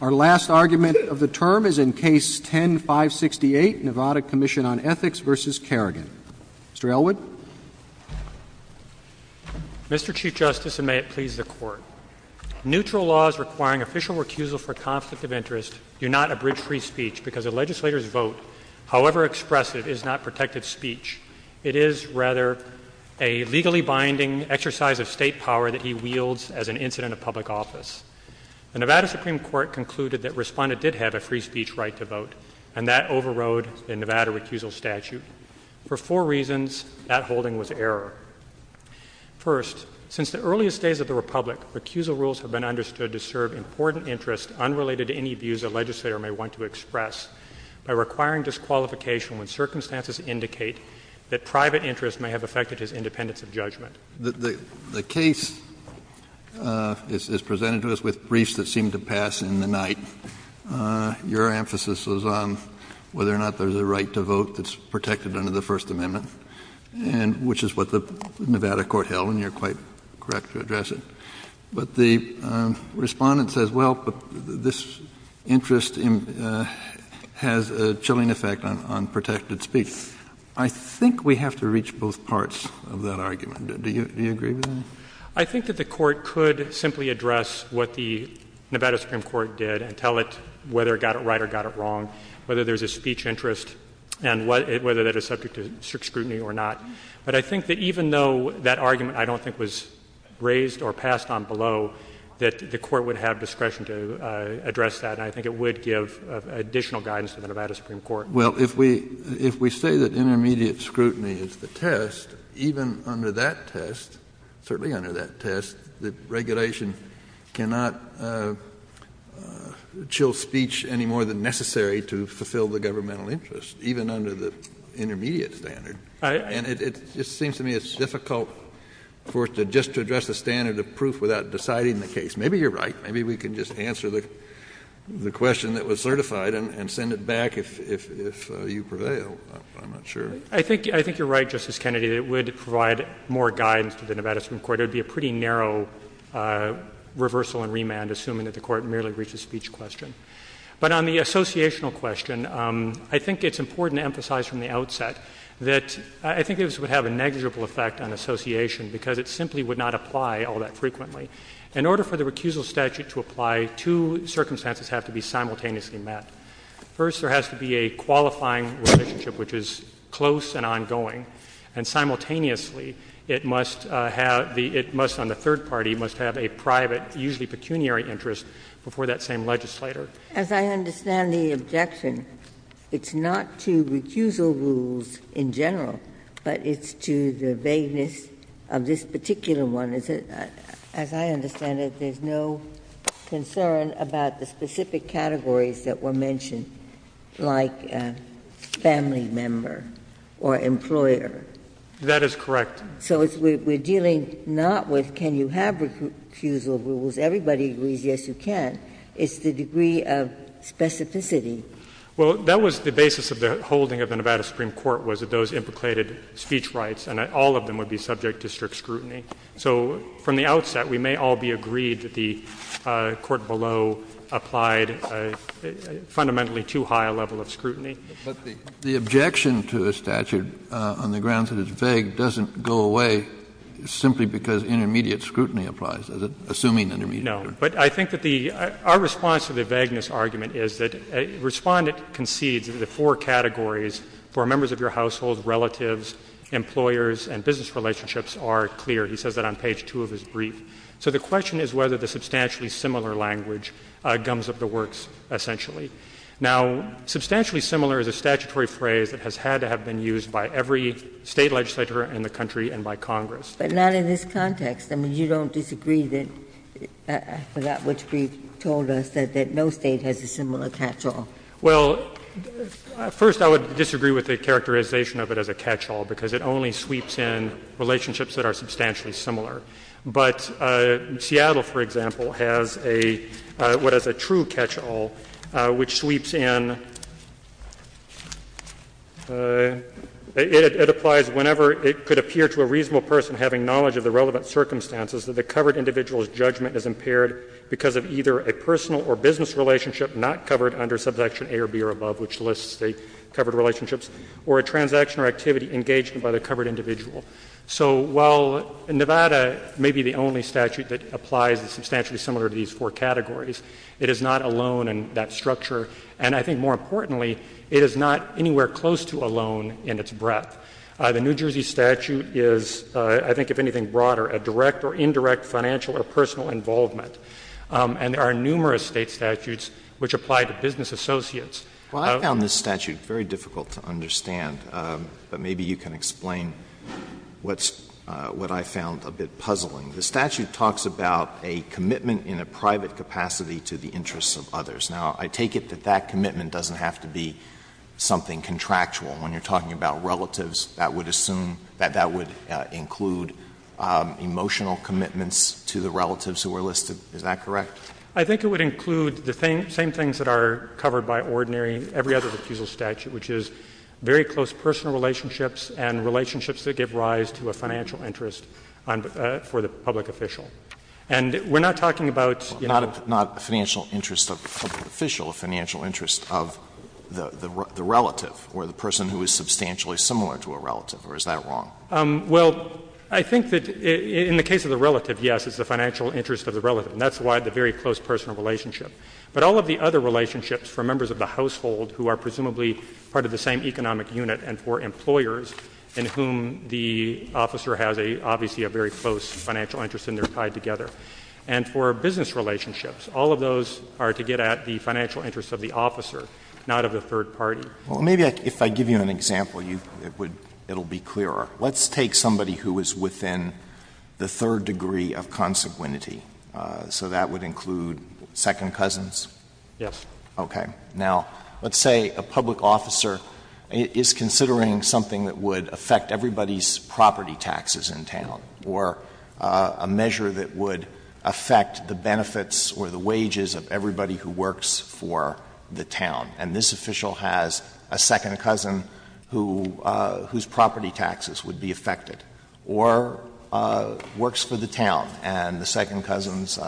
Our last argument of the term is in Case 10-568, Nevada Comm'n on Ethics v. Carrigan. Mr. Elwood. Mr. Chief Justice, and may it please the Court, neutral laws requiring official recusal for conflict of interest do not abridge free speech because a legislator's vote, however expressive, is not protective speech. It is, rather, a legally binding exercise of state power that he wields as an incident of public office. The Nevada Supreme Court concluded that Responda did have a free speech right to vote, and that overrode the Nevada recusal statute. For four reasons, that holding was error. First, since the earliest days of the Republic, recusal rules have been understood to serve important interests unrelated to any views a legislator may want to express by requiring disqualification when circumstances indicate that private interests may have affected his independence of judgment. Kennedy The case is presented to us with briefs that seem to pass in the night. Your emphasis is on whether or not there's a right to vote that's protected under the First Amendment, and which is what the Nevada court held, and you're quite correct to address it. But the Respondent says, well, this interest has a chilling effect on protected speech. I think we have to reach both parts of that argument. Do you agree with that? Roberts I think that the Court could simply address what the Nevada Supreme Court did and tell it whether it got it right or got it wrong, whether there's a speech interest, and whether that is subject to strict scrutiny or not. But I think that even though that argument I don't think was raised or passed on below, that the Court would have discretion to address that, and I think it would give additional guidance to the Nevada Supreme Court. Kennedy Well, if we say that intermediate scrutiny is the test, even under that test, certainly under that test, that regulation cannot chill speech any more than necessary to fulfill the governmental interest, even under the intermediate standard. And it seems to me it's difficult for us just to address the standard of proof without deciding the case. Maybe you're right. Maybe we can just answer the question that was certified and send it back if you prevail. I'm not sure. Roberts I think you're right, Justice Kennedy, that it would provide more guidance to the Nevada Supreme Court. It would be a pretty narrow reversal and remand, assuming that the Court merely reached a speech question. But on the associational question, I think it's important to emphasize from the outset that I think this would have a negligible effect on association because it simply would not apply all that frequently. In order for the recusal statute to apply, two circumstances have to be simultaneously met. First, there has to be a qualifying relationship, which is close and ongoing. And simultaneously, it must have the — it must, on the third party, must have a private, usually pecuniary interest before that same legislator. Ginsburg As I understand the objection, it's not to recusal rules in general, but it's to the vagueness of this particular one. As I understand it, there's no concern about the specific categories that were mentioned, like family member or employer. Roberts That is correct. Ginsburg So we're dealing not with can you have recusal rules. Everybody agrees yes, you can. It's the degree of specificity. Roberts Well, that was the basis of the holding of the Nevada Supreme Court was that those implicated speech rights, and all of them would be subject to strict scrutiny. So from the outset, we may all be agreed that the court below applied fundamentally too high a level of scrutiny. Kennedy But the objection to a statute on the grounds that it's vague doesn't go away simply because intermediate scrutiny applies, is it, assuming intermediate scrutiny? Roberts No. But I think that the — our response to the vagueness argument is that Respondent concedes that the four categories for members of your household, relatives, employers, and business relationships are clear. He says that on page 2 of his brief. So the question is whether the substantially similar language gums up the works, essentially. Now, substantially similar is a statutory phrase that has had to have been used by every State legislator in the country and by Congress. Ginsburg But not in this context. I mean, you don't disagree that — I forgot which brief told us that no State has a similar catch-all. Roberts Well, first, I would disagree with the characterization of it as a catch-all, because it only sweeps in relationships that are substantially similar. But Seattle, for example, has a — what is a true catch-all, which sweeps in — it applies whenever it could appear to a reasonable person having knowledge of the relevant circumstances that the covered individual's judgment is impaired because of either a personal or business relationship not covered under Subsection A or B or above, which lists the covered relationships, or a transaction or activity engaged by the covered individual. So while Nevada may be the only statute that applies the substantially similar to these four categories, it is not alone in that structure. And I think more importantly, it is not anywhere close to alone in its breadth. The New Jersey statute is, I think, if anything broader, a direct or indirect financial or personal involvement. And there are numerous State statutes which apply to business associates. Alito Well, I found this statute very difficult to understand. But maybe you can explain what's — what I found a bit puzzling. The statute talks about a commitment in a private capacity to the interests of others. Now, I take it that that commitment doesn't have to be something contractual. When you're talking about relatives, that would assume — that that would include emotional commitments to the relatives who were listed. Is that correct? I think it would include the same things that are covered by ordinary — every other refusal statute, which is very close personal relationships and relationships that give rise to a financial interest for the public official. And we're not talking about — Not a financial interest of the public official. A financial interest of the relative or the person who is substantially similar to a relative. Or is that wrong? Well, I think that in the case of the relative, yes, it's the financial interest of the relative. And that's why the very close personal relationship. But all of the other relationships for members of the household who are presumably part of the same economic unit and for employers in whom the officer has a — obviously a very close financial interest and they're tied together. And for business relationships, all of those are to get at the financial interest of the officer, not of the third party. Well, maybe if I give you an example, you — it would — it'll be clearer. Let's take somebody who is within the third degree of consequentity. So that would include second cousins? Yes. Okay. Now, let's say a public officer is considering something that would affect everybody's property taxes in town or a measure that would affect the benefits or the wages of everybody who works for the town. And this official has a second cousin who — whose property taxes would be affected or works for the town and the second cousin's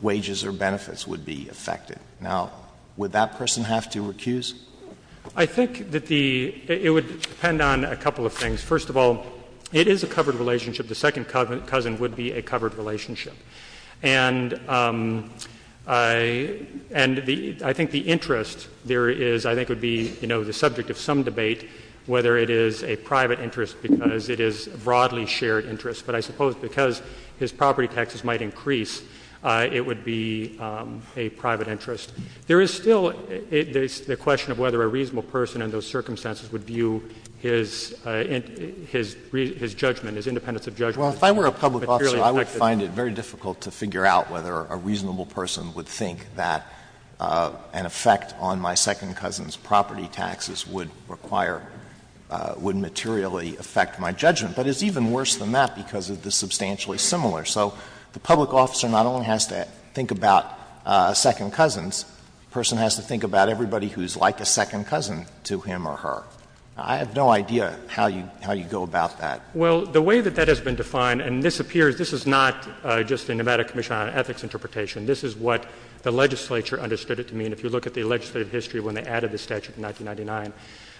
wages or benefits would be affected. Now, would that person have to recuse? I think that the — it would depend on a couple of things. First of all, it is a covered relationship. The second cousin would be a covered relationship. And I — and the — I think the interest there is — I think would be, you know, the subject of some debate whether it is a private interest because it is a broadly shared interest. But I suppose because his property taxes might increase, it would be a private interest. There is still the question of whether a reasonable person in those circumstances would view his — his — his judgment, his independence of judgment — it would be difficult to figure out whether a reasonable person would think that an effect on my second cousin's property taxes would require — would materially affect my judgment. But it's even worse than that because of the substantially similar. So the public officer not only has to think about second cousins, the person has to think about everybody who is like a second cousin to him or her. I have no idea how you — how you go about that. Well, the way that that has been defined — and this appears — this is not just a Nevada Commission on Ethics interpretation. This is what the legislature understood it to mean if you look at the legislative history when they added the statute in 1999.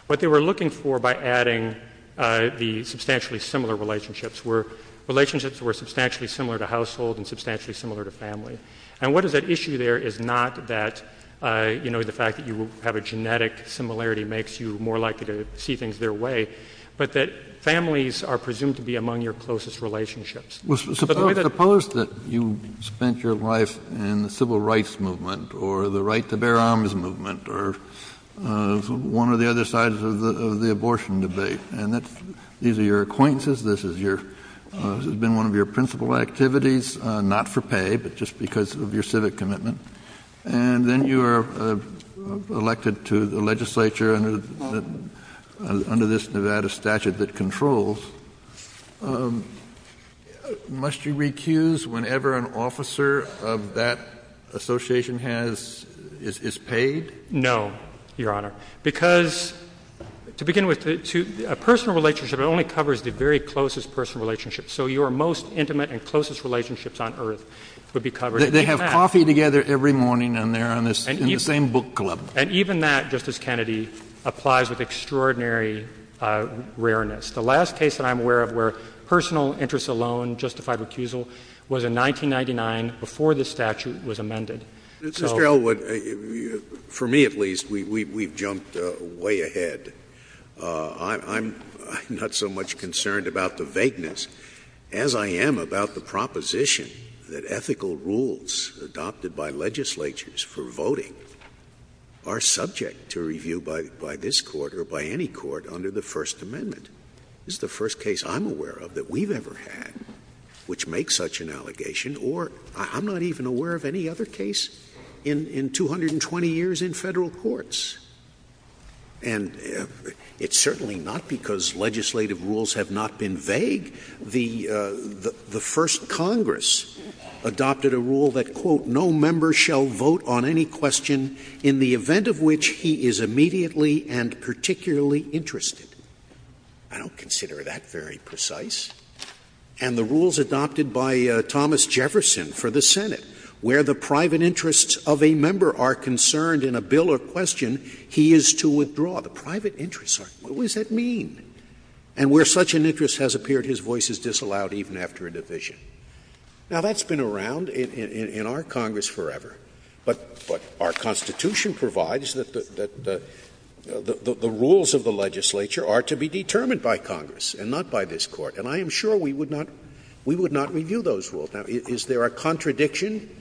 What they were looking for by adding the substantially similar relationships were relationships that were substantially similar to household and substantially similar to family. And what is at issue there is not that, you know, the fact that you have a genetic similarity makes you more likely to see things their way, but that families are presumed to be among your closest relationships. Suppose that you spent your life in the civil rights movement or the right to bear arms movement or one of the other sides of the abortion debate. And these are your acquaintances. This has been one of your principal activities, not for pay, but just because of your civic commitment. And then you were elected to the legislature under this Nevada statute that controls. Must you recuse whenever an officer of that association has — is paid? No, Your Honor, because to begin with, a personal relationship only covers the very closest personal relationships. So your most intimate and closest relationships on earth would be covered. They have coffee together every morning and they're in the same book club. And even that, Justice Kennedy, applies with extraordinary rareness. The last case that I'm aware of where personal interests alone justified recusal was in 1999 before this statute was amended. Mr. Elwood, for me at least, we've jumped way ahead. I'm not so much concerned about the vagueness as I am about the proposition that ethical rules adopted by legislatures for voting are subject to review by this Court or by any court under the First Amendment. This is the first case I'm aware of that we've ever had which makes such an allegation or I'm not even aware of any other case in 220 years in Federal courts. And it's certainly not because legislative rules have not been vague. The First Congress adopted a rule that, quote, no member shall vote on any question in the event of which he is immediately and particularly interested. I don't consider that very precise. And the rules adopted by Thomas Jefferson for the Senate where the private interests of a member are concerned in a bill or question, he is to withdraw. The private interests, what does that mean? And where such an interest has appeared, his voice is disallowed even after a division. Now, that's been around in our Congress forever. But our Constitution provides that the rules of the legislature are to be determined by Congress and not by this Court. And I am sure we would not review those rules. Now, is there a contradiction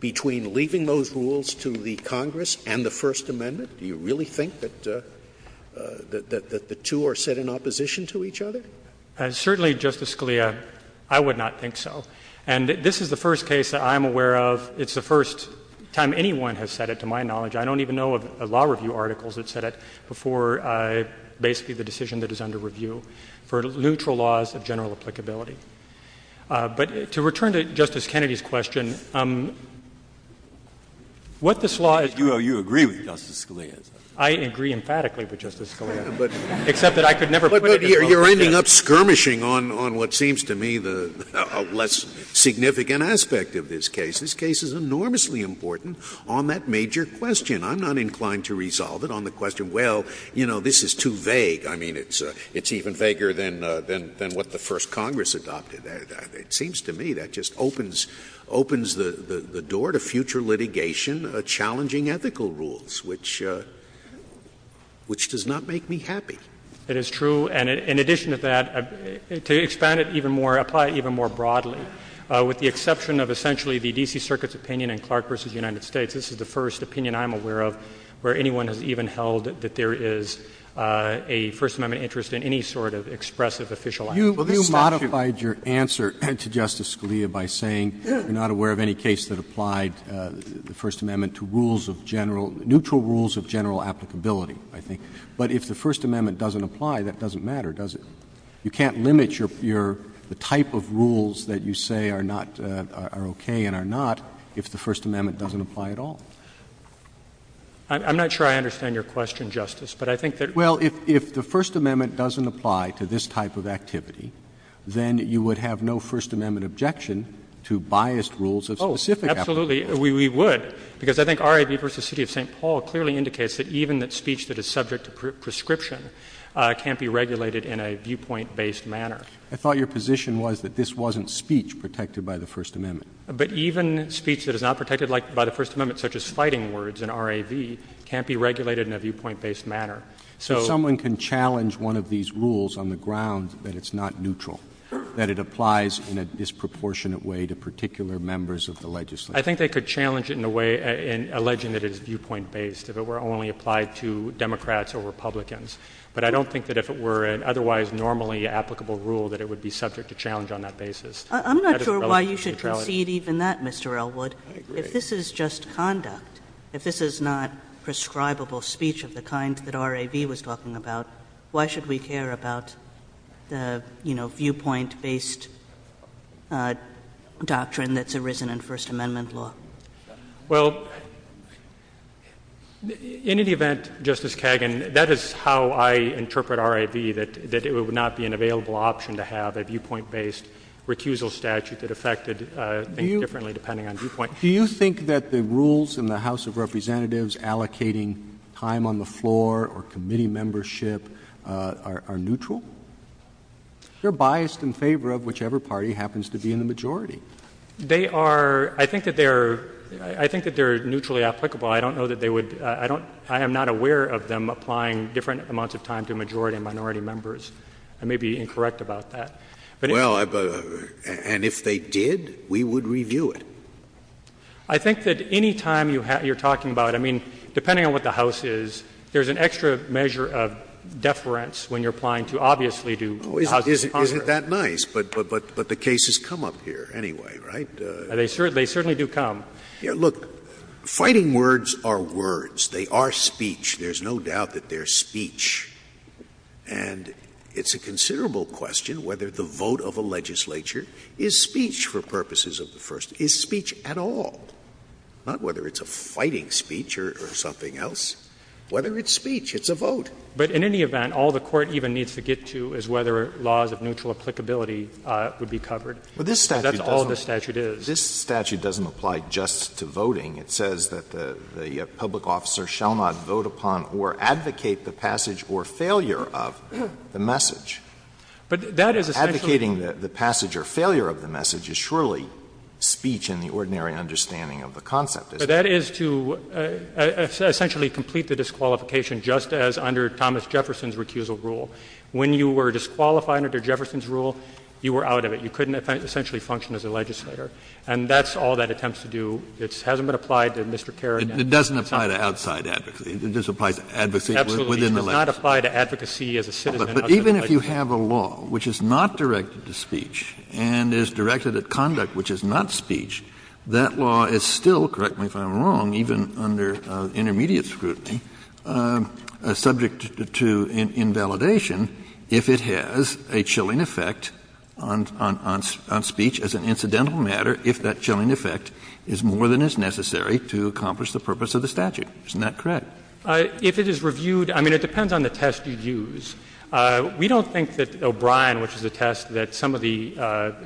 between leaving those rules to the Congress and the First Amendment? Do you really think that the two are set in opposition to each other? Certainly, Justice Scalia, I would not think so. And this is the first case that I'm aware of. It's the first time anyone has said it, to my knowledge. I don't even know of law review articles that said it before basically the decision that is under review for neutral laws of general applicability. But to return to Justice Kennedy's question, what this law is doing is that it's I agree emphatically with Justice Scalia. Except that I could never put it in the Constitution. Scalia. But you are ending up skirmishing on what seems to me a less significant aspect of this case. This case is enormously important on that major question. I'm not inclined to resolve it on the question, well, you know, this is too vague. I mean, it's even vaguer than what the first Congress adopted. It seems to me that just opens the door to future litigation, challenging ethical rules, which does not make me happy. It is true. And in addition to that, to expand it even more, apply it even more broadly, with the exception of essentially the D.C. Circuit's opinion in Clark v. United States, this is the first opinion I'm aware of where anyone has even held that there is a First Amendment interest in any sort of expressive official action. You modified your answer to Justice Scalia by saying you're not aware of any case that applied the First Amendment to rules of general — neutral rules of general applicability, I think. But if the First Amendment doesn't apply, that doesn't matter, does it? You can't limit your — the type of rules that you say are not — are okay and are not if the First Amendment doesn't apply at all. I'm not sure I understand your question, Justice, but I think that — Well, if the First Amendment doesn't apply to this type of activity, then you would have no First Amendment objection to biased rules of specific applicability. Oh, absolutely. We would, because I think R.A.V. v. City of St. Paul clearly indicates that even that speech that is subject to prescription can't be regulated in a viewpoint-based manner. I thought your position was that this wasn't speech protected by the First Amendment. But even speech that is not protected by the First Amendment, such as fighting words in R.A.V., can't be regulated in a viewpoint-based manner. If someone can challenge one of these rules on the ground that it's not neutral, that it applies in a disproportionate way to particular members of the Legislature. I think they could challenge it in a way — alleging that it is viewpoint-based if it were only applied to Democrats or Republicans. But I don't think that if it were an otherwise normally applicable rule that it would be subject to challenge on that basis. I'm not sure why you should concede even that, Mr. Elwood. I agree. If this is just conduct, if this is not prescribable speech of the kind that R.A.V. was talking about, why should we care about the, you know, viewpoint-based doctrine that's arisen in First Amendment law? Well, in any event, Justice Kagan, that is how I interpret R.A.V., that it would not be an available option to have a viewpoint-based recusal statute that affected things differently depending on viewpoint. Do you think that the rules in the House of Representatives allocating time on the floor or committee membership are neutral? They're biased in favor of whichever party happens to be in the majority. They are — I think that they're — I think that they're neutrally applicable. I don't know that they would — I don't — I am not aware of them applying different amounts of time to a majority and minority members. I may be incorrect about that. Well, and if they did, we would review it. I think that any time you're talking about — I mean, depending on what the House is, there's an extra measure of deference when you're applying to, obviously, to Houses of Congress. Isn't that nice? But the cases come up here anyway, right? They certainly do come. Look, fighting words are words. They are speech. There's no doubt that they're speech. And it's a considerable question whether the vote of a legislature is speech for purposes of the First — is speech at all, not whether it's a fighting speech or something else. Whether it's speech, it's a vote. But in any event, all the Court even needs to get to is whether laws of neutral applicability would be covered. But this statute doesn't. That's all this statute is. This statute doesn't apply just to voting. It says that the public officer shall not vote upon or advocate the passage or failure of the message. But that is essentially. Advocating the passage or failure of the message is surely speech in the ordinary understanding of the concept, isn't it? So that is to essentially complete the disqualification just as under Thomas Jefferson's recusal rule. When you were disqualified under Jefferson's rule, you were out of it. You couldn't essentially function as a legislator. And that's all that attempts to do. It hasn't been applied to Mr. Kerr again. It doesn't apply to outside advocacy. It just applies to advocacy within the legislature. Absolutely. It does not apply to advocacy as a citizen. But even if you have a law which is not directed to speech and is directed at conduct which is not speech, that law is still, correct me if I'm wrong, even under intermediate scrutiny, subject to invalidation if it has a chilling effect on speech as an incidental matter, if that chilling effect is more than is necessary to accomplish the purpose of the statute. Isn't that correct? If it is reviewed, I mean, it depends on the test you use. We don't think that O'Brien, which is a test that some of the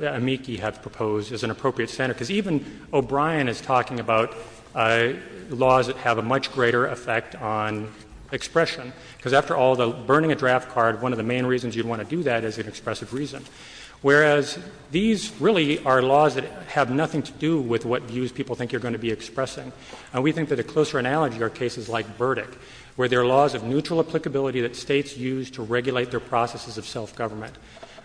amici have proposed, is an appropriate standard. Because even O'Brien is talking about laws that have a much greater effect on expression. Because after all, burning a draft card, one of the main reasons you'd want to do that is an expressive reason. Whereas these really are laws that have nothing to do with what views people think you're going to be expressing. And we think that a closer analogy are cases like Burdick, where there are laws of neutral applicability that States use to regulate their processes of self-government.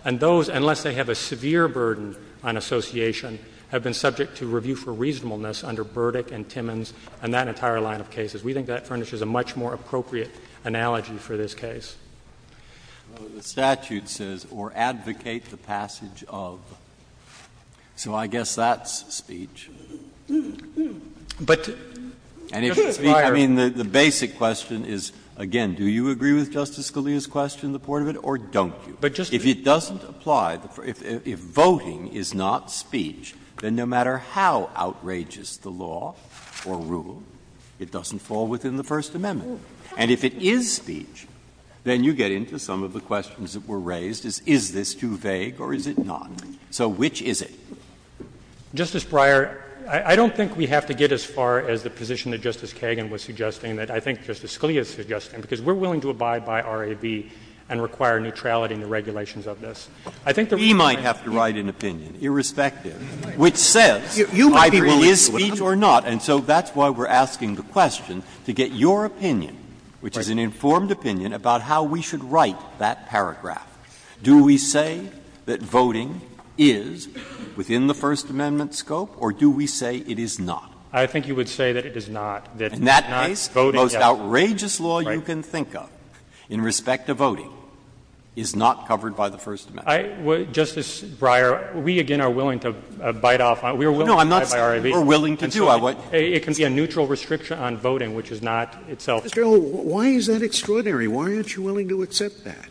And those, unless they have a severe burden on association, have been subject to review for reasonableness under Burdick and Timmons and that entire line of cases. We think that furnishes a much more appropriate analogy for this case. Breyer. The statute says, or advocate the passage of. So I guess that's speech. But, Justice Breyer. I mean, the basic question is, again, do you agree with Justice Scalia's question, the point of it, or don't you? If it doesn't apply, if voting is not speech, then no matter how outrageous the law or rule, it doesn't fall within the First Amendment. And if it is speech, then you get into some of the questions that were raised, is this too vague or is it not? So which is it? Justice Breyer, I don't think we have to get as far as the position that Justice Kagan was suggesting, that I think Justice Scalia is suggesting, because we're willing to abide by RAB and require neutrality in the regulations of this. I think that we might have to write an opinion, irrespective, which says either it is speech or not. And so that's why we're asking the question, to get your opinion, which is an informed opinion, about how we should write that paragraph. Do we say that voting is within the First Amendment scope, or do we say it is not? I think you would say that it is not. In that case, the most outrageous law you can think of in respect to voting is not covered by the First Amendment. Justice Breyer, we again are willing to abide off. We are willing to abide by RAB. No, I'm not. We're willing to do. It can be a neutral restriction on voting, which is not itself. Mr. O'Connor, why is that extraordinary? Why aren't you willing to accept that?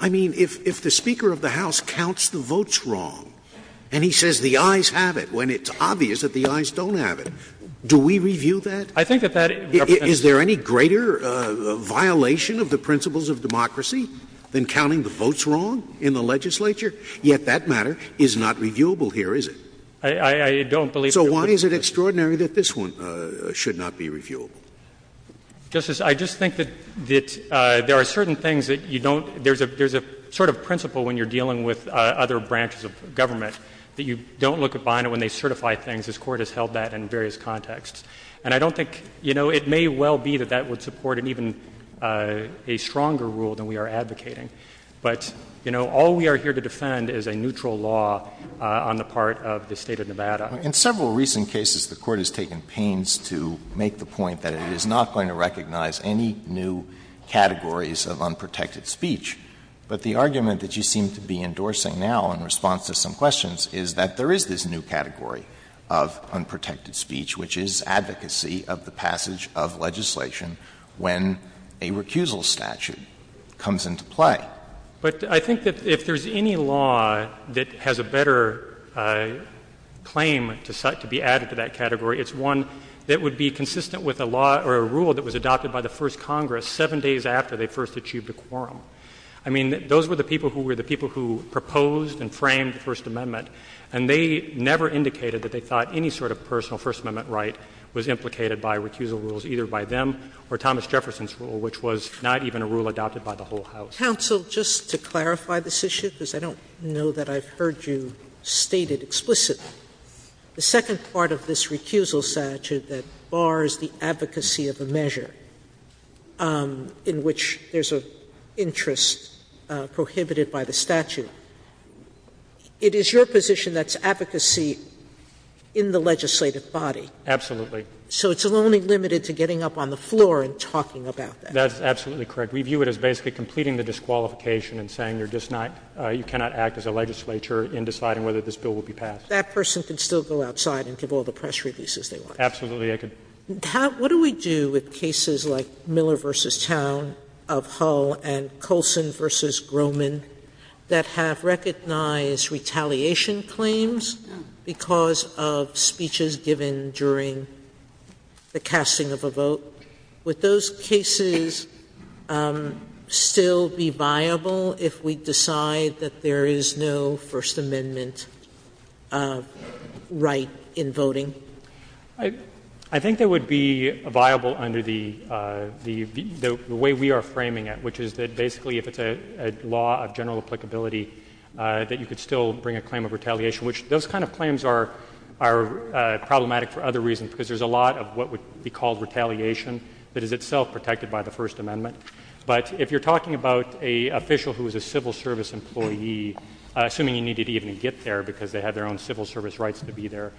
I mean, if the Speaker of the House counts the votes wrong, and he says the ayes have it, when it's obvious that the ayes don't have it, do we review that? I think that that represents. Is there any greater violation of the principles of democracy than counting the votes wrong in the legislature? Yet that matter is not reviewable here, is it? I don't believe so. So why is it extraordinary that this one should not be reviewable? Justice, I just think that there are certain things that you don't – there's a sort of principle when you're dealing with other branches of government that you don't look behind it when they certify things. This Court has held that in various contexts. And I don't think – you know, it may well be that that would support an even – a stronger rule than we are advocating. But, you know, all we are here to defend is a neutral law on the part of the State of Nevada. In several recent cases, the Court has taken pains to make the point that it is not going to recognize any new categories of unprotected speech. But the argument that you seem to be endorsing now in response to some questions is that there is this new category of unprotected speech, which is advocacy of the passage of legislation when a recusal statute comes into play. But I think that if there's any law that has a better claim to be added to that category, it's one that would be consistent with a law or a rule that was adopted by the first Congress seven days after they first achieved a quorum. I mean, those were the people who were the people who proposed and framed the First Amendment, and they never indicated that they thought any sort of personal First Amendment right was implicated by recusal rules, either by them or Thomas Jefferson's rule, which was not even a rule adopted by the whole House. Sotomayor, just to clarify this issue, because I don't know that I've heard you state it explicitly, the second part of this recusal statute that bars the advocacy of a measure in which there's an interest prohibited by the statute, it is your position that's advocacy in the legislative body. Absolutely. So it's only limited to getting up on the floor and talking about that. That's absolutely correct. We view it as basically completing the disqualification and saying you're just not you cannot act as a legislature in deciding whether this bill will be passed. That person can still go outside and give all the press releases they want. Absolutely. What do we do with cases like Miller v. Towne of Hull and Coulson v. Grohman that have recognized retaliation claims because of speeches given during the casting of a vote? Would those cases still be viable if we decide that there is no First Amendment right in voting? I think they would be viable under the way we are framing it, which is that basically if it's a law of general applicability that you could still bring a claim of retaliation, which those kind of claims are problematic for other reasons, because there's a lot of what would be called retaliation that is itself protected by the First Amendment. But if you're talking about an official who is a civil service employee, assuming you need to even get there because they have their own civil service rights to be there,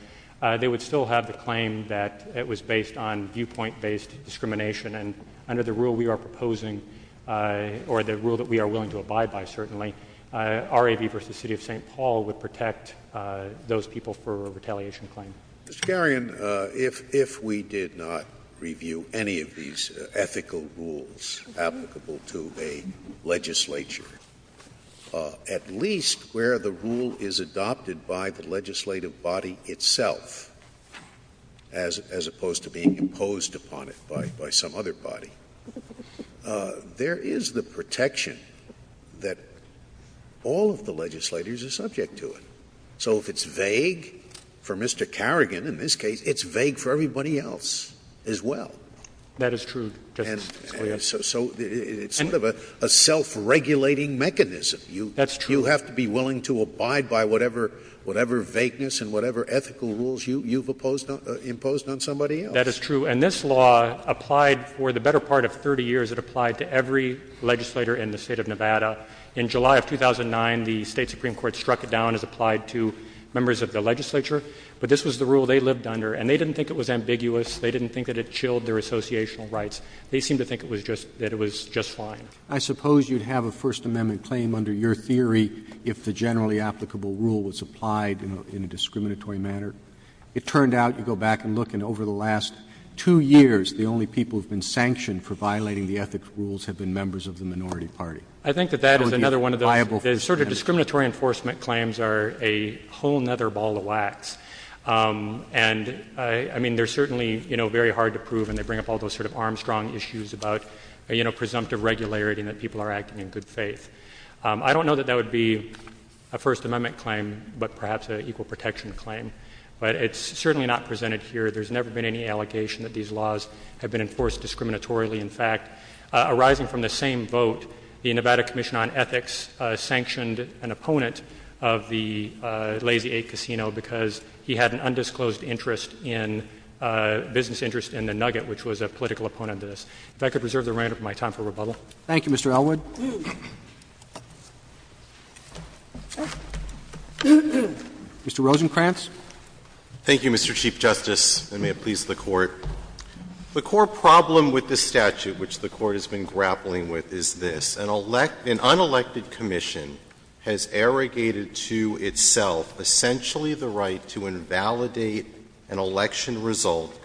they would still have the claim that it was based on viewpoint-based discrimination. And under the rule we are proposing, or the rule that we are willing to abide by, certainly, R.A.V. v. City of St. Paul would protect those people for a retaliation claim. Mr. Carrion, if we did not review any of these ethical rules applicable to a legislature, at least where the rule is adopted by the legislative body itself, as opposed to being imposed upon it by some other body, there is the protection that all of the legislators are subject to it. So if it's vague for Mr. Carrion in this case, it's vague for everybody else as well. That is true, Justice Scalia. So it's sort of a self-regulating mechanism. That's true. You have to be willing to abide by whatever vagueness and whatever ethical rules you've imposed on somebody else. That is true. And this law applied for the better part of 30 years. It applied to every legislator in the State of Nevada. In July of 2009, the State Supreme Court struck it down as applied to members of the legislature. But this was the rule they lived under. And they didn't think it was ambiguous. They didn't think that it chilled their associational rights. They seemed to think that it was just fine. I suppose you'd have a First Amendment claim under your theory if the generally applicable rule was applied in a discriminatory manner. It turned out, you go back and look, and over the last two years, the only people who have been sanctioned for violating the ethics rules have been members of the minority party. I think that that is another one of the sort of discriminatory enforcement claims are a whole other ball of wax. And, I mean, they're certainly, you know, very hard to prove, and they bring up all the strong issues about, you know, presumptive regularity and that people are acting in good faith. I don't know that that would be a First Amendment claim, but perhaps an equal protection claim. But it's certainly not presented here. There's never been any allegation that these laws have been enforced discriminatorily. In fact, arising from the same vote, the Nevada Commission on Ethics sanctioned an opponent of the Lazy Eight Casino because he had an undisclosed interest in a business interest in the Nugget, which was a political opponent of this. If I could reserve the remainder of my time for rebuttal. Thank you, Mr. Elwood. Mr. Rosenkranz. Thank you, Mr. Chief Justice, and may it please the Court. The core problem with this statute, which the Court has been grappling with, is this. An unelected commission has arrogated to itself essentially the right to invalidate an election result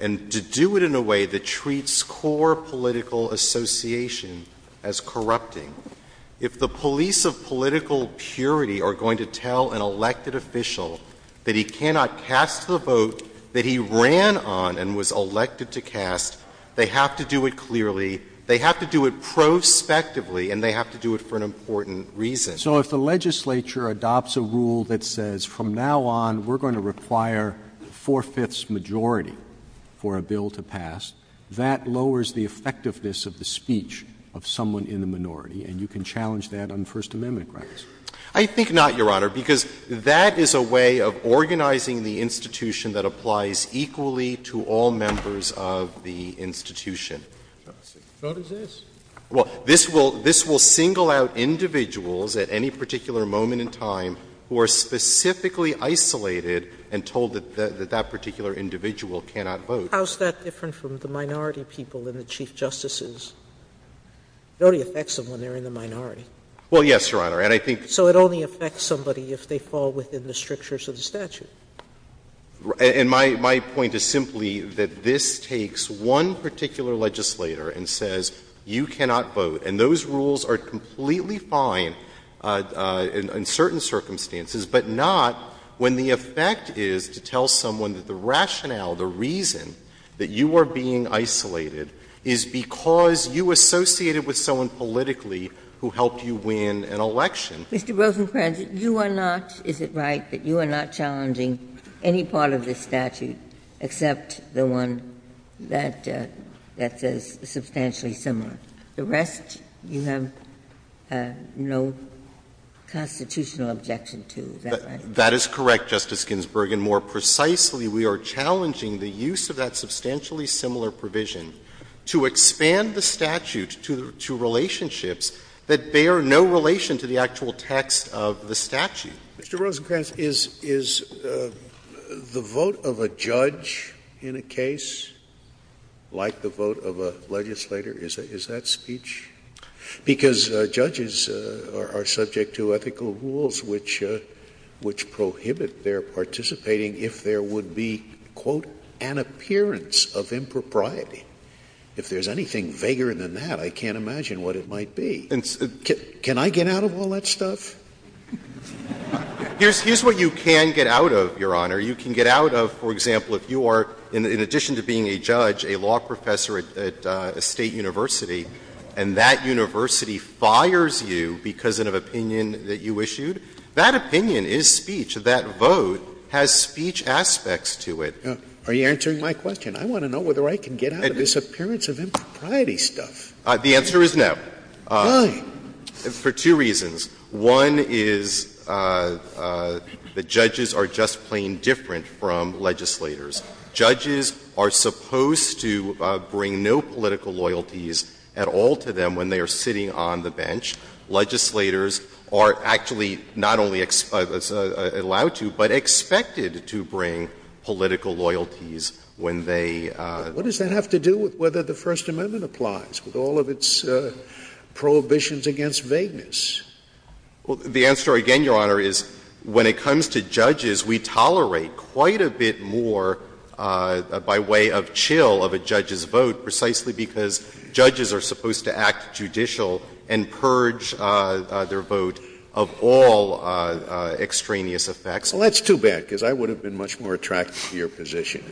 and to do it in a way that treats core political association as corrupting. If the police of political purity are going to tell an elected official that he cannot cast the vote that he ran on and was elected to cast, they have to do it clearly, they have to do it prospectively, and they have to do it for an important reason. So if the legislature adopts a rule that says from now on we're going to require a four-fifths majority for a bill to pass, that lowers the effectiveness of the speech of someone in the minority, and you can challenge that on First Amendment grounds? I think not, Your Honor, because that is a way of organizing the institution that applies equally to all members of the institution. So does this. Well, this will single out individuals at any particular moment in time who are specifically isolated and told that that particular individual cannot vote. How is that different from the minority people in the Chief Justices? It only affects them when they're in the minority. Well, yes, Your Honor, and I think. So it only affects somebody if they fall within the strictures of the statute. And my point is simply that this takes one particular legislator and says you can not vote, and those rules are completely fine in certain circumstances, but not when the effect is to tell someone that the rationale, the reason that you are being isolated is because you associated with someone politically who helped you win an election. Mr. Rosenkranz, you are not, is it right, that you are not challenging any part of the statute except the one that says substantially similar? The rest you have no constitutional objection to, is that right? That is correct, Justice Ginsburg, and more precisely, we are challenging the use of that substantially similar provision to expand the statute to relationships that bear no relation to the actual text of the statute. Mr. Rosenkranz, is the vote of a judge in a case like the vote of a legislator? Is that speech? Because judges are subject to ethical rules which prohibit their participating if there would be, quote, an appearance of impropriety. If there's anything vaguer than that, I can't imagine what it might be. Can I get out of all that stuff? Here's what you can get out of, Your Honor. You can get out of, for example, if you are, in addition to being a judge, a law professor at a State university, and that university fires you because of an opinion that you issued, that opinion is speech. That vote has speech aspects to it. Are you answering my question? I want to know whether I can get out of this appearance of impropriety stuff. The answer is no. Why? For two reasons. One is that judges are just plain different from legislators. Judges are supposed to bring no political loyalties at all to them when they are sitting on the bench. Legislators are actually not only allowed to, but expected to bring political loyalties when they are. What does that have to do with whether the First Amendment applies, with all of its prohibitions against vagueness? The answer again, Your Honor, is when it comes to judges, we tolerate quite a bit more by way of chill of a judge's vote precisely because judges are supposed to act judicial and purge their vote of all extraneous effects. Well, that's too bad, because I would have been much more attracted to your position.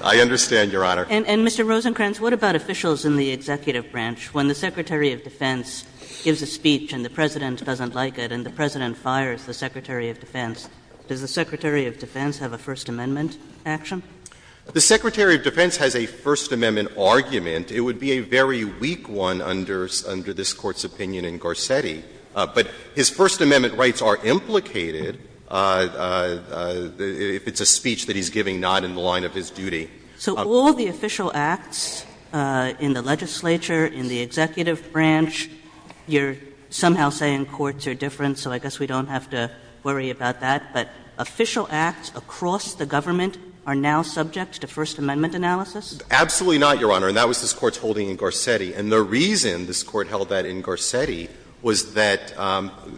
I understand, Your Honor. And, Mr. Rosenkranz, what about officials in the executive branch? When the Secretary of Defense gives a speech and the President doesn't like it and the President fires the Secretary of Defense, does the Secretary of Defense have a First Amendment action? The Secretary of Defense has a First Amendment argument. It would be a very weak one under this Court's opinion in Garcetti. But his First Amendment rights are implicated if it's a speech that he's giving not in the line of his duty. So all the official acts in the legislature, in the executive branch, you're somehow saying courts are different, so I guess we don't have to worry about that, but official acts across the government are now subject to First Amendment analysis? Absolutely not, Your Honor, and that was this Court's holding in Garcetti. And the reason this Court held that in Garcetti was that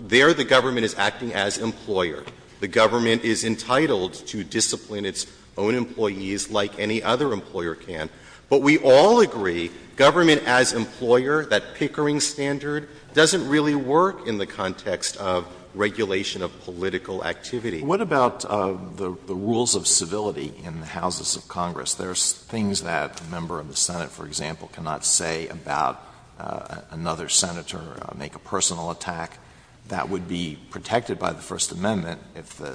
there the government is acting as employer. The government is entitled to discipline its own employees like any other employer can, but we all agree government as employer, that Pickering standard, doesn't really work in the context of regulation of political activity. What about the rules of civility in the houses of Congress? There's things that a member of the Senate, for example, cannot say about another senator, make a personal attack, that would be protected by the First Amendment if the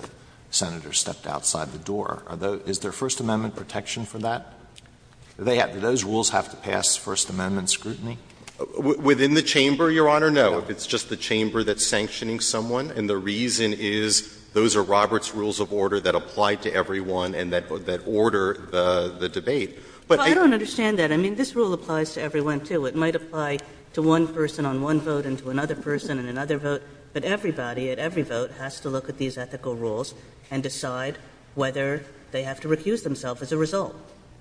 senator stepped outside the door. Is there First Amendment protection for that? Do those rules have to pass First Amendment scrutiny? Within the chamber, Your Honor, no. It's just the chamber that's sanctioning someone, and the reason is those are Roberts' rules of order that apply to everyone and that order the debate. But I don't understand that. I mean, this rule applies to everyone, too. It might apply to one person on one vote and to another person on another vote, but everybody at every vote has to look at these ethical rules and decide whether they have to recuse themselves as a result.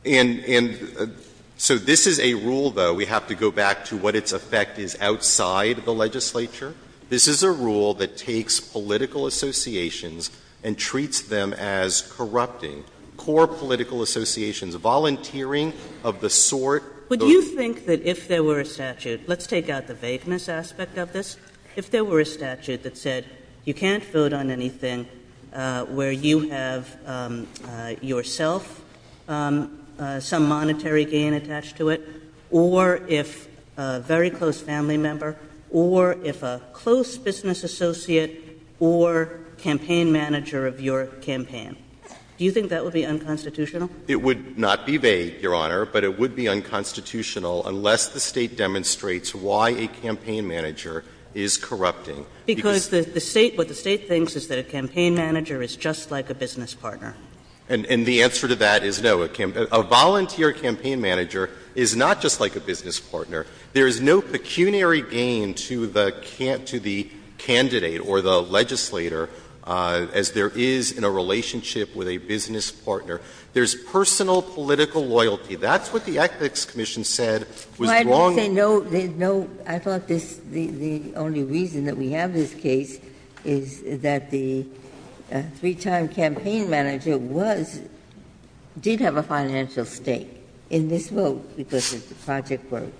And so this is a rule, though, we have to go back to what its effect is outside the legislature. This is a rule that takes political associations and treats them as corrupting core political associations, volunteering of the sort. Would you think that if there were a statute, let's take out the vagueness aspect of this, if there were a statute that said you can't vote on anything where you have yourself some monetary gain attached to it, or if a very close family member, or if a close business associate, or campaign manager of your campaign, do you think that would be unconstitutional? It would not be vague, Your Honor, but it would be unconstitutional. Unless the State demonstrates why a campaign manager is corrupting. Because the State, what the State thinks is that a campaign manager is just like a business partner. And the answer to that is no. A volunteer campaign manager is not just like a business partner. There is no pecuniary gain to the candidate or the legislator as there is in a relationship with a business partner. There is personal political loyalty. That's what the Ethics Commission said was wrong. Ginsburg. I thought the only reason that we have this case is that the three-time campaign manager was, did have a financial stake in this vote because the project was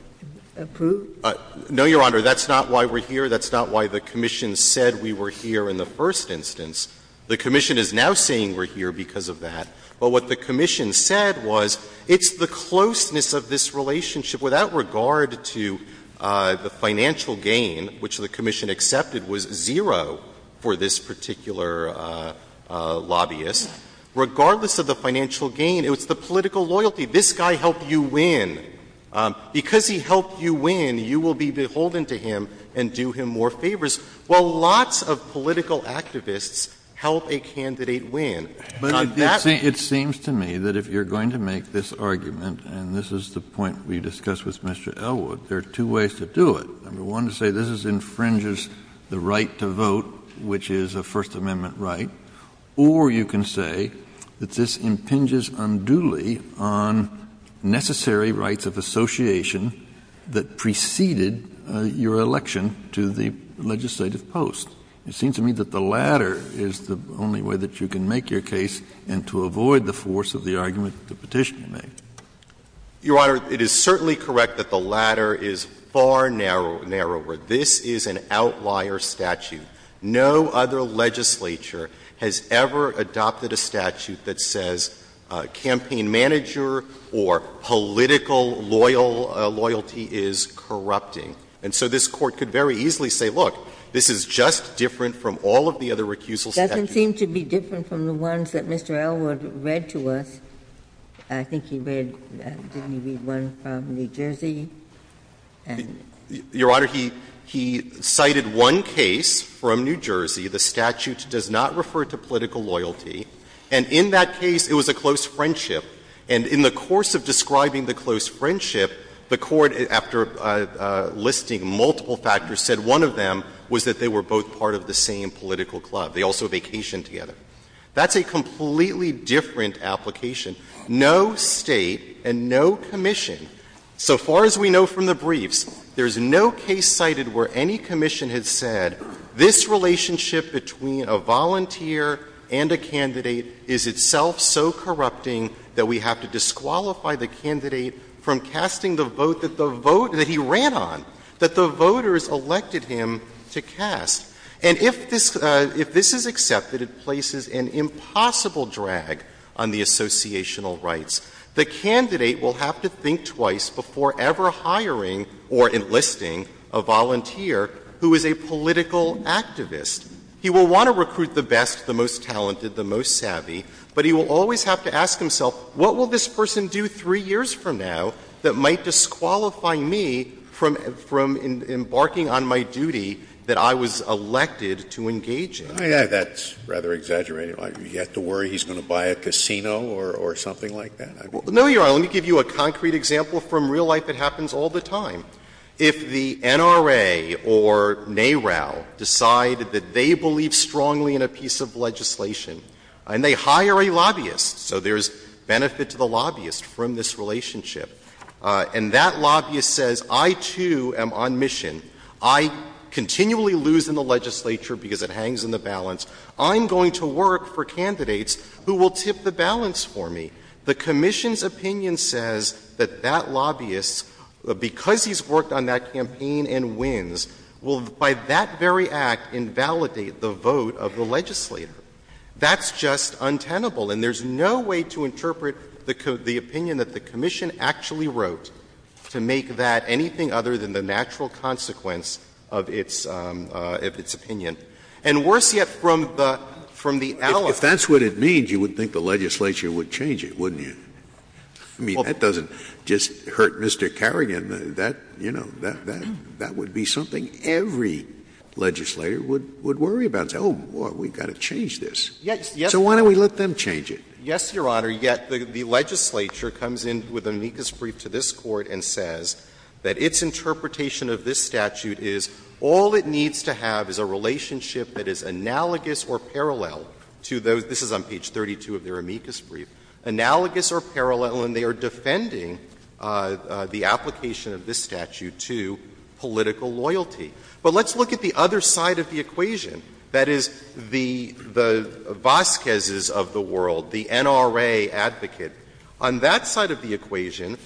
approved? No, Your Honor. That's not why we're here. That's not why the commission said we were here in the first instance. The commission is now saying we're here because of that. But what the commission said was it's the closeness of this relationship without regard to the financial gain, which the commission accepted was zero for this particular lobbyist. Regardless of the financial gain, it's the political loyalty. This guy helped you win. Because he helped you win, you will be beholden to him and do him more favors. Well, lots of political activists help a candidate win. It seems to me that if you're going to make this argument, and this is the point we discussed with Mr. Elwood, there are two ways to do it. Number one, to say this infringes the right to vote, which is a First Amendment right, or you can say that this impinges unduly on necessary rights of association that preceded your election to the legislative post. It seems to me that the latter is the only way that you can make your case and to avoid the force of the argument the Petitioner made. Your Honor, it is certainly correct that the latter is far narrower. This is an outlier statute. No other legislature has ever adopted a statute that says campaign manager or political loyalty is corrupting. And so this Court could very easily say, look, this is just different from all of the other recusal statutes. It doesn't seem to be different from the ones that Mr. Elwood read to us. I think he read one from New Jersey. Your Honor, he cited one case from New Jersey. The statute does not refer to political loyalty. And in that case, it was a close friendship. And in the course of describing the close friendship, the Court, after listing multiple factors, said one of them was that they were both part of the same political club. They also vacationed together. That's a completely different application. No State and no commission, so far as we know from the briefs, there's no case cited that the candidate is itself so corrupting that we have to disqualify the candidate from casting the vote that the vote that he ran on, that the voters elected him to cast. And if this is accepted, it places an impossible drag on the associational rights. The candidate will have to think twice before ever hiring or enlisting a volunteer who is a political activist. He will want to recruit the best, the most talented, the most savvy, but he will always have to ask himself, what will this person do three years from now that might disqualify me from embarking on my duty that I was elected to engage in? That's rather exaggerated. You have to worry he's going to buy a casino or something like that? No, Your Honor. Let me give you a concrete example from real life that happens all the time. If the NRA or NARAL decide that they believe strongly in a piece of legislation and they hire a lobbyist, so there's benefit to the lobbyist from this relationship and that lobbyist says, I, too, am on mission. I continually lose in the legislature because it hangs in the balance. I'm going to work for candidates who will tip the balance for me. The commission's opinion says that that lobbyist, because he's worked on that campaign and wins, will, by that very act, invalidate the vote of the legislator. That's just untenable, and there's no way to interpret the opinion that the commission actually wrote to make that anything other than the natural consequence of its opinion. And worse yet, from the allies. If that's what it means, you would think the legislature would change it, wouldn't you? I mean, that doesn't just hurt Mr. Carrigan. That, you know, that would be something every legislator would worry about. Oh, boy, we've got to change this. So why don't we let them change it? Yes, Your Honor. Yet the legislature comes in with an amicus brief to this Court and says that its interpretation of this statute is all it needs to have is a relationship that is analogous or parallel to those — this is on page 32 of their amicus brief — analogous or parallel, and they are defending the application of this statute to political loyalty. But let's look at the other side of the equation. That is, the Vasquez's of the world, the NRA advocate. On that side of the equation,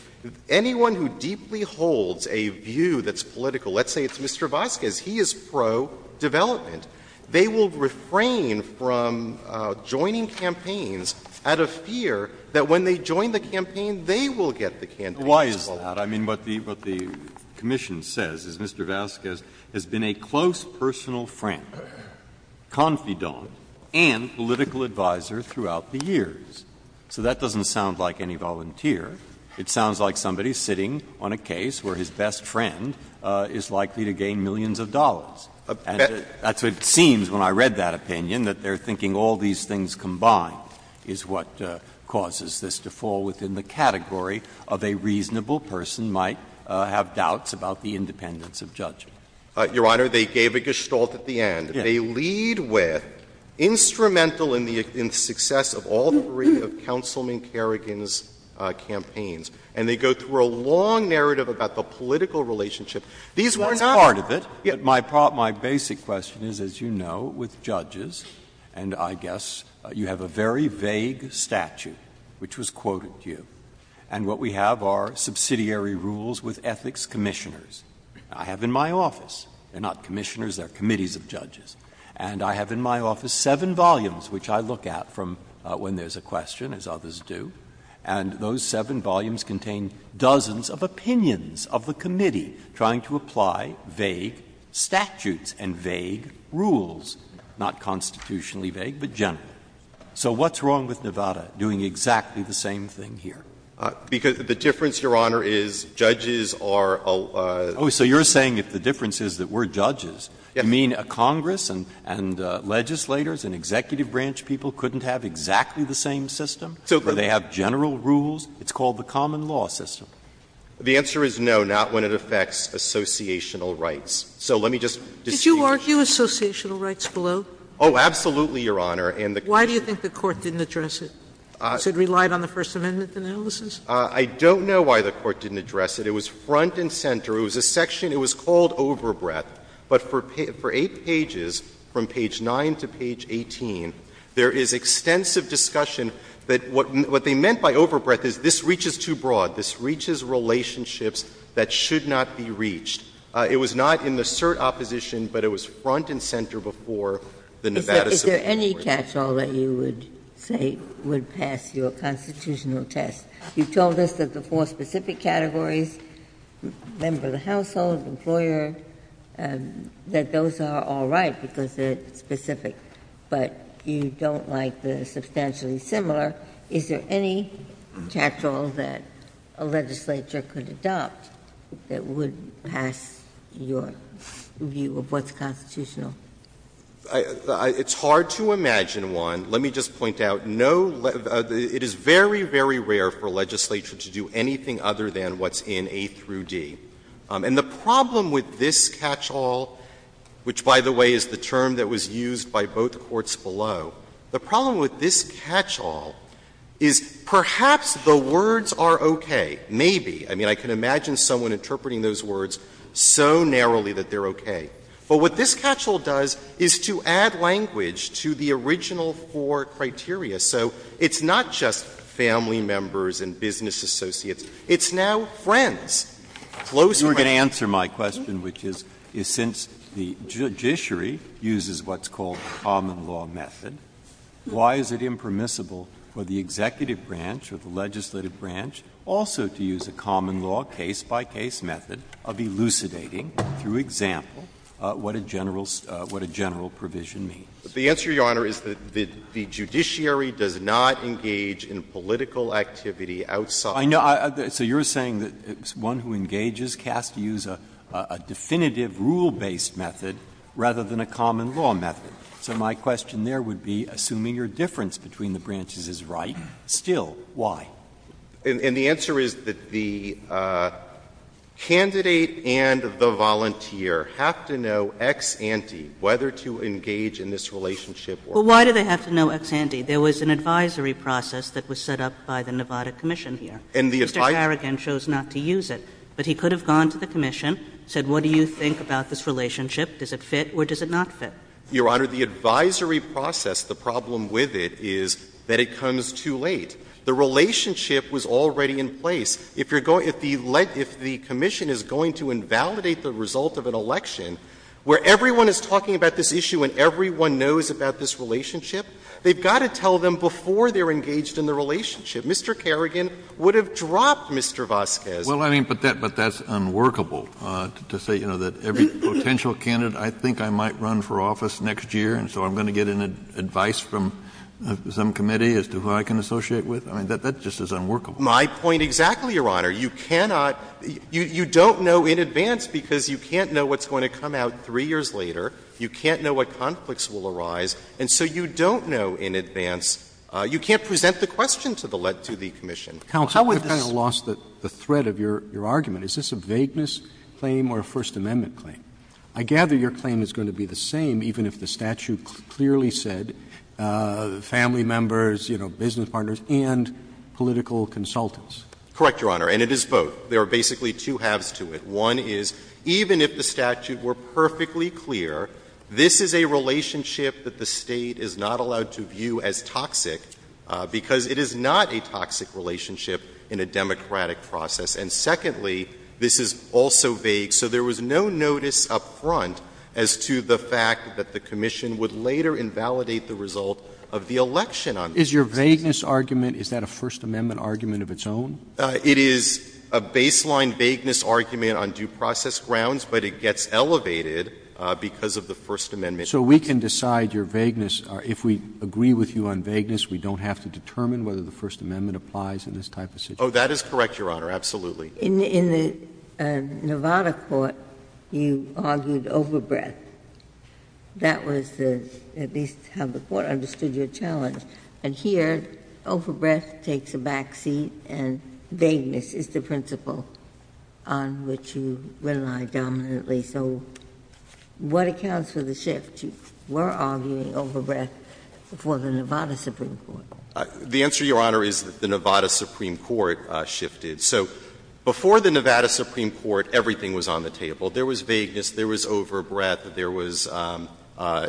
anyone who deeply holds a view that's political — let's say it's Mr. Vasquez. He is pro-development. They will refrain from joining campaigns out of fear that when they join the campaign, they will get the campaign. Why is that? I mean, what the commission says is Mr. Vasquez has been a close personal friend, confidant, and political advisor throughout the years. So that doesn't sound like any volunteer. It sounds like somebody sitting on a case where his best friend is likely to gain millions of dollars. And that's what it seems when I read that opinion, that they're thinking all these things combined is what causes this to fall within the category of a reasonable person might have doubts about the independence of judgment. Your Honor, they gave a gestalt at the end. They lead with, instrumental in the success of all three of Councilman Kerrigan's campaigns. And they go through a long narrative about the political relationship. These were not— That's part of it. My basic question is, as you know, with judges, and I guess you have a very vague statute which was quoted to you, and what we have are subsidiary rules with ethics commissioners. I have in my office — they're not commissioners, they're committees of judges — and I have in my office seven volumes which I look at from when there's a question, as others do. And those seven volumes contain dozens of opinions of the committee trying to apply vague statutes and vague rules, not constitutionally vague, but general. So what's wrong with Nevada doing exactly the same thing here? Because the difference, Your Honor, is judges are— Oh, so you're saying that the difference is that we're judges. Yes. You mean a Congress and legislators and executive branch people couldn't have exactly the same system? Do they have general rules? It's called the common law system. The answer is no, not when it affects associational rights. So let me just dispute— Did you argue associational rights below? Oh, absolutely, Your Honor. And the— Why do you think the Court didn't address it? Because it relied on the First Amendment analysis? I don't know why the Court didn't address it. It was front and center. It was a section. It was called overbreadth. But for eight pages, from page 9 to page 18, there is extensive discussion that what they meant by overbreadth is this reaches too broad. This reaches relationships that should not be reached. It was not in the cert opposition, but it was front and center before the Nevada Supreme Court. Is there any catch-all that you would say would pass your constitutional test? You told us that the four specific categories, member of the household, employer, that those are all right because they're specific, but you don't like the substantially similar. Is there any catch-all that a legislature could adopt that would pass your view of what's constitutional? It's hard to imagine one. Let me just point out. It is very, very rare for a legislature to do anything other than what's in A through D. And the problem with this catch-all, which, by the way, is the term that was used by both courts below, the problem with this catch-all is perhaps the words are okay, maybe. I mean, I can imagine someone interpreting those words so narrowly that they're okay. But what this catch-all does is to add language to the original four criteria, so it's not just family members and business associates. It's now friends, close friends. Breyer, you were going to answer my question, which is since the judiciary uses what's called the common law method, why is it impermissible for the executive branch or the legislative branch also to use a common law case-by-case method of elucidating, through example, what a general provision means? The answer, Your Honor, is that the judiciary does not engage in political activity outside. So you're saying that one who engages has to use a definitive rule-based method rather than a common law method. So my question there would be, assuming your difference between the branches is right, still, why? And the answer is that the candidate and the volunteer have to know ex ante whether to engage in this relationship or not. But why do they have to know ex ante? There was an advisory process that was set up by the Nevada Commission here. And the entire — Mr. Harrigan chose not to use it, but he could have gone to the Commission, said, what do you think about this relationship? Does it fit or does it not fit? Your Honor, the advisory process, the problem with it is that it comes too late. The relationship was already in place. If you're going — if the — if the Commission is going to invalidate the result of an election where everyone is talking about this issue and everyone knows about this relationship, they've got to tell them before they're engaged in the relationship. Mr. Carrigan would have dropped Mr. Vasquez. Well, I mean, but that — but that's unworkable to say, you know, that every potential candidate, I think I might run for office next year, and so I'm going to get advice from some committee as to who I can associate with. I mean, that just is unworkable. My point exactly, Your Honor. You cannot — you don't know in advance because you can't know what's going to come out three years later. You can't know what conflicts will arise. And so you don't know in advance. You can't present the question to the — to the Commission. How would this— Counsel, we've kind of lost the thread of your argument. Is this a vagueness claim or a First Amendment claim? I gather your claim is going to be the same even if the statute clearly said family members, you know, business partners and political consultants. Correct, Your Honor. And it is both. There are basically two halves to it. One is even if the statute were perfectly clear, this is a relationship that the State is not allowed to view as toxic because it is not a toxic relationship in a democratic process. And secondly, this is also vague. So there was no notice up front as to the fact that the Commission would later invalidate the result of the election on this case. Is your vagueness argument — is that a First Amendment argument of its own? It is a baseline vagueness argument on due process grounds, but it gets elevated because of the First Amendment. So we can decide your vagueness. If we agree with you on vagueness, we don't have to determine whether the First Amendment applies in this type of situation? Oh, that is correct, Your Honor. Absolutely. In the Nevada court, you argued overbreadth. That was at least how the court understood your challenge. And here, overbreadth takes a back seat and vagueness is the principle on which you rely dominantly. So what accounts for the shift? You were arguing overbreadth before the Nevada Supreme Court. The answer, Your Honor, is that the Nevada Supreme Court shifted. So before the Nevada Supreme Court, everything was on the table. There was vagueness. There was overbreadth. There was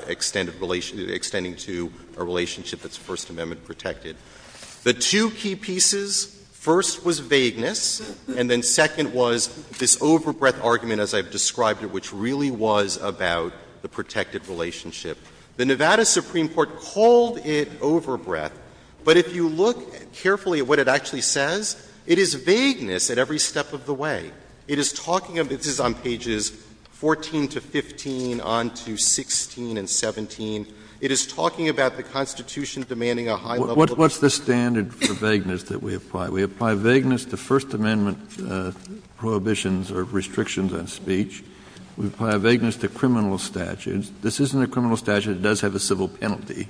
extended relation — extending to a relationship that's First Amendment protected. The two key pieces, first was vagueness, and then second was this overbreadth argument, as I've described it, which really was about the protected relationship. The Nevada Supreme Court called it overbreadth, but if you look carefully at what it actually says, it is vagueness at every step of the way. It is talking about — this is on pages 14 to 15, on to 16 and 17. It is talking about the Constitution demanding a high level of protection. What's the standard for vagueness that we apply? We apply vagueness to First Amendment prohibitions or restrictions on speech. We apply vagueness to criminal statutes. This isn't a criminal statute. It does have a civil penalty.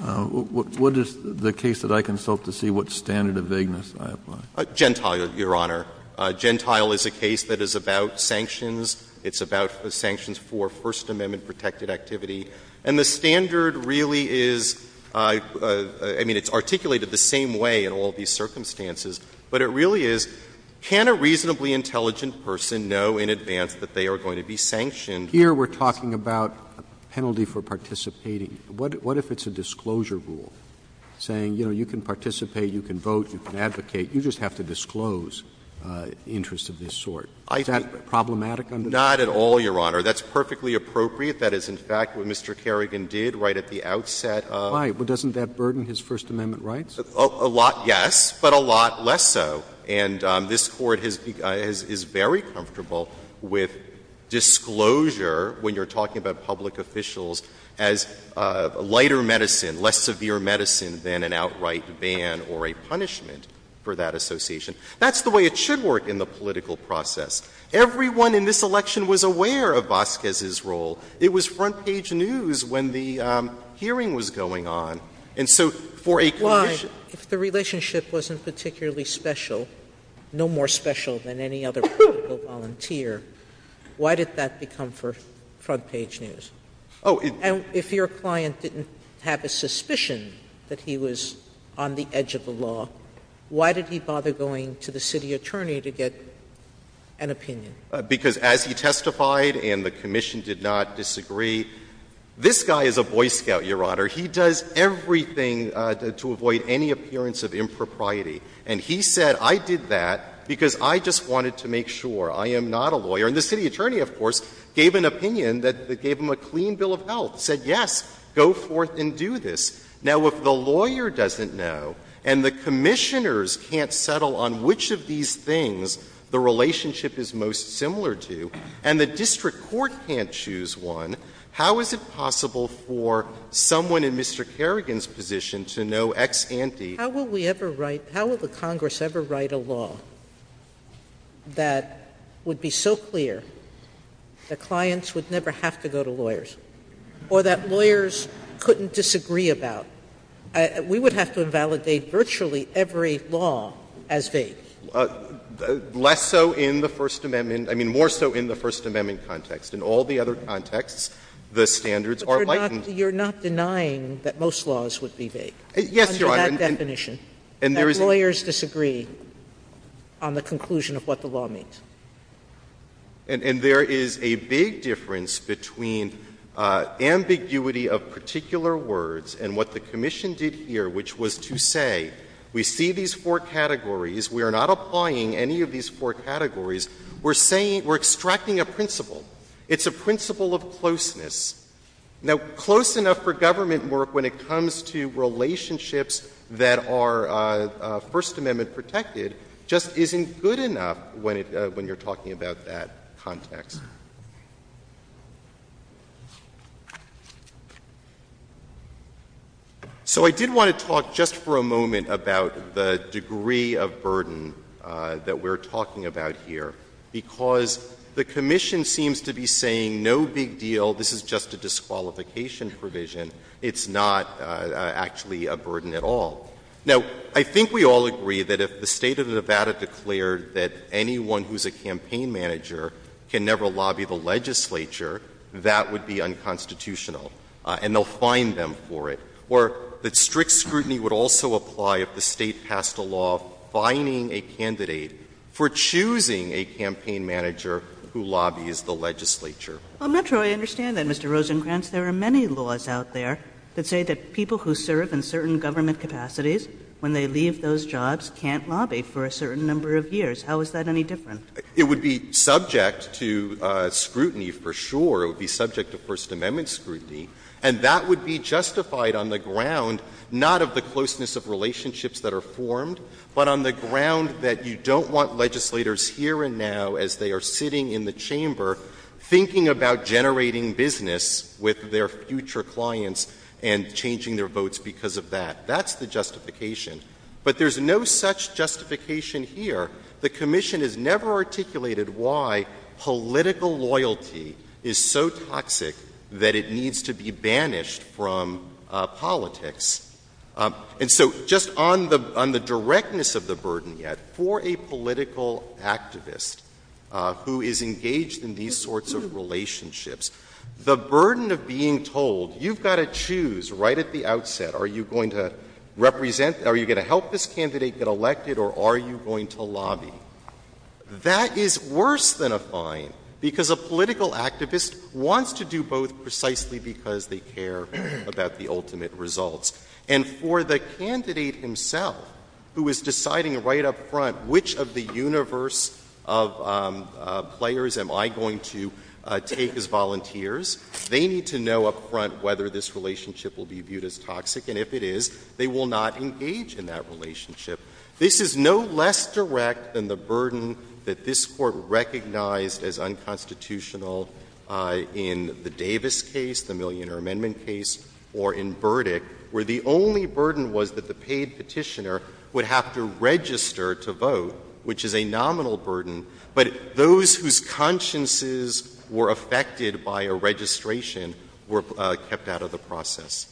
What is the case that I consult to see what standard of vagueness I apply? Gentile, Your Honor. Gentile is a case that is about sanctions. It's about sanctions for First Amendment protected activity. And the standard really is — I mean, it's articulated the same way in all these circumstances, but it really is, can a reasonably intelligent person know in advance that they are going to be sanctioned? Here we're talking about a penalty for participating. What if it's a disclosure rule, saying, you know, you can participate, you can vote, you can advocate. You just have to disclose interests of this sort. Is that problematic under the law? Not at all, Your Honor. That's perfectly appropriate. That is, in fact, what Mr. Kerrigan did right at the outset. Why? Doesn't that burden his First Amendment rights? A lot, yes, but a lot less so. And this Court is very comfortable with disclosure when you're talking about public officials as lighter medicine, less severe medicine than an outright ban or a punishment for that association. That's the way it should work in the political process. Everyone in this election was aware of Vasquez's role. It was front-page news when the hearing was going on. And so for a commission — Why? If the relationship wasn't particularly special, no more special than any other political volunteer, why did that become front-page news? Oh, it — And if your client didn't have a suspicion that he was on the edge of the law, why did he bother going to the city attorney to get an opinion? Because as he testified and the commission did not disagree, this guy is a Boy Scout, Your Honor. He does everything to avoid any appearance of impropriety. And he said, I did that because I just wanted to make sure. I am not a lawyer. And the city attorney, of course, gave an opinion that gave him a clean bill of health, said, yes, go forth and do this. Now, if the lawyer doesn't know and the commissioners can't settle on which of these things the relationship is most similar to and the district court can't choose one, how is it possible for someone in Mr. Kerrigan's position to know ex ante? How will we ever write — how will the Congress ever write a law that would be so clear that clients would never have to go to lawyers or that lawyers couldn't disagree about? We would have to invalidate virtually every law as vague. Less so in the First Amendment — I mean, more so in the First Amendment context. In all the other contexts, the standards are likened — But you're not denying that most laws would be vague. Yes, Your Honor. Under that definition, that lawyers disagree on the conclusion of what the law means. And there is a big difference between ambiguity of particular words and what the commission did here, which was to say, we see these four categories. We are not applying any of these four categories. We're saying — we're extracting a principle. It's a principle of closeness. Now, close enough for government work when it comes to relationships that are First Amendment protected just isn't good enough when it — when you're talking about that context. So I did want to talk just for a moment about the degree of burden that we're talking about here, because the commission seems to be saying, no big deal, this is just a disqualification provision. It's not actually a burden at all. Now, I think we all agree that if the State of Nevada declared that anyone who's a campaign manager can never lobby the legislature, that would be unconstitutional, and they'll fine them for it. Or that strict scrutiny would also apply if the State passed a law fining a candidate for choosing a campaign manager who lobbies the legislature. Kagan I'm not sure I understand that, Mr. Rosengrantz. There are many laws out there that say that people who serve in certain government capacities, when they leave those jobs, can't lobby for a certain number of years. How is that any different? Rosengrantz It would be subject to scrutiny for sure. It would be subject to First Amendment scrutiny, and that would be justified on the ground not of the closeness of relationships that are formed, but on the ground that you don't want legislators here and now, as they are sitting in the chamber, thinking about generating business with their future clients and changing their votes because of that. That's the justification. But there's no such justification here. The Commission has never articulated why political loyalty is so toxic that it needs to be banished from politics. And so, just on the directness of the burden yet, for a political activist who is engaged in these sorts of relationships, the burden of being told, you've got to choose right at the outset, are you going to represent, are you going to help this candidate get elected, or are you going to lobby, that is worse than a fine, because a political activist wants to do both precisely because they care about the ultimate results. And for the candidate himself, who is deciding right up front which of the universe of players am I going to take as volunteers, they need to know up front whether this relationship will be viewed as toxic, and if it is, they will not engage in that relationship. This is no less direct than the burden that this Court recognized as unconstitutional in the Davis case, the Millionaire Amendment case, or in Burdick, where the only burden was that the paid petitioner would have to register to vote, which is a nominal burden, but those whose consciences were affected by a registration were kept out of the process.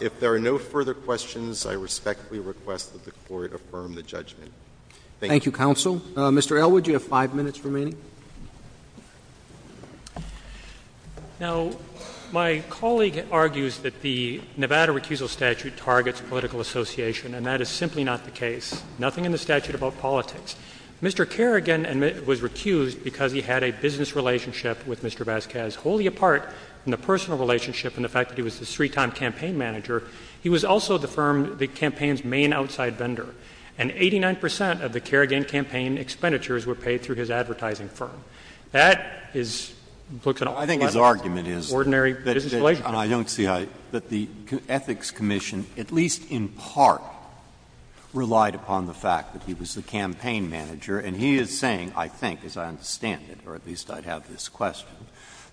If there are no further questions, I respectfully request that the Court affirm the judgment. Thank you. Thank you, Counsel. Mr. Elwood, you have five minutes remaining. Thank you. Now, my colleague argues that the Nevada recusal statute targets political association, and that is simply not the case. Nothing in the statute about politics. Mr. Kerrigan was recused because he had a business relationship with Mr. Vasquez. Wholly apart from the personal relationship and the fact that he was the three-time campaign manager, he was also the firm, the campaign's main outside vendor. And 89 percent of the Kerrigan campaign expenditures were paid through his advertising firm. That is, looks at all levels of ordinary business relationship. I think his argument is that the ethics commission, at least in part, relied upon the fact that he was the campaign manager. And he is saying, I think, as I understand it, or at least I'd have this question,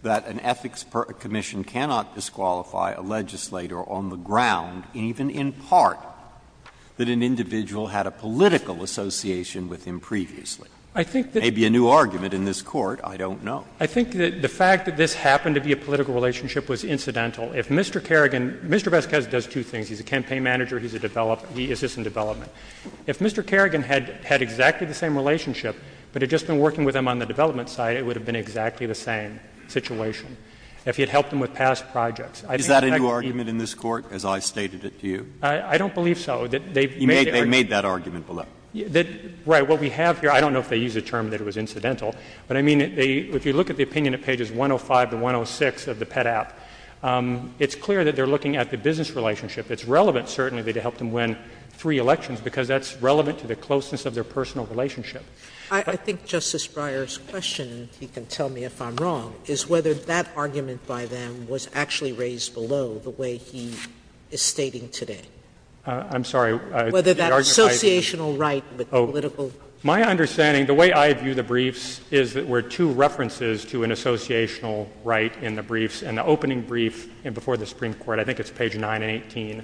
that an ethics commission cannot disqualify a legislator on the ground, even in part, that an individual had a political association with him previously. I think that — May be a new argument in this Court. I don't know. I think that the fact that this happened to be a political relationship was incidental. If Mr. Kerrigan — Mr. Vasquez does two things. He's a campaign manager. He's a developer. He assists in development. If Mr. Kerrigan had exactly the same relationship, but had just been working with him on the development side, it would have been exactly the same situation. If he had helped him with past projects. Is that a new argument in this Court, as I stated it to you? I don't believe so. They've made — They made that argument below. Right. What we have here — I don't know if they used the term that it was incidental, but I mean, if you look at the opinion at pages 105 to 106 of the Pet App, it's clear that they're looking at the business relationship. It's relevant, certainly, to help them win three elections, because that's relevant to the closeness of their personal relationship. I think Justice Breyer's question, if he can tell me if I'm wrong, is whether that I'm sorry. Whether that associational right with the political — My understanding, the way I view the briefs, is that there were two references to an associational right in the briefs. In the opening brief before the Supreme Court, I think it's page 918,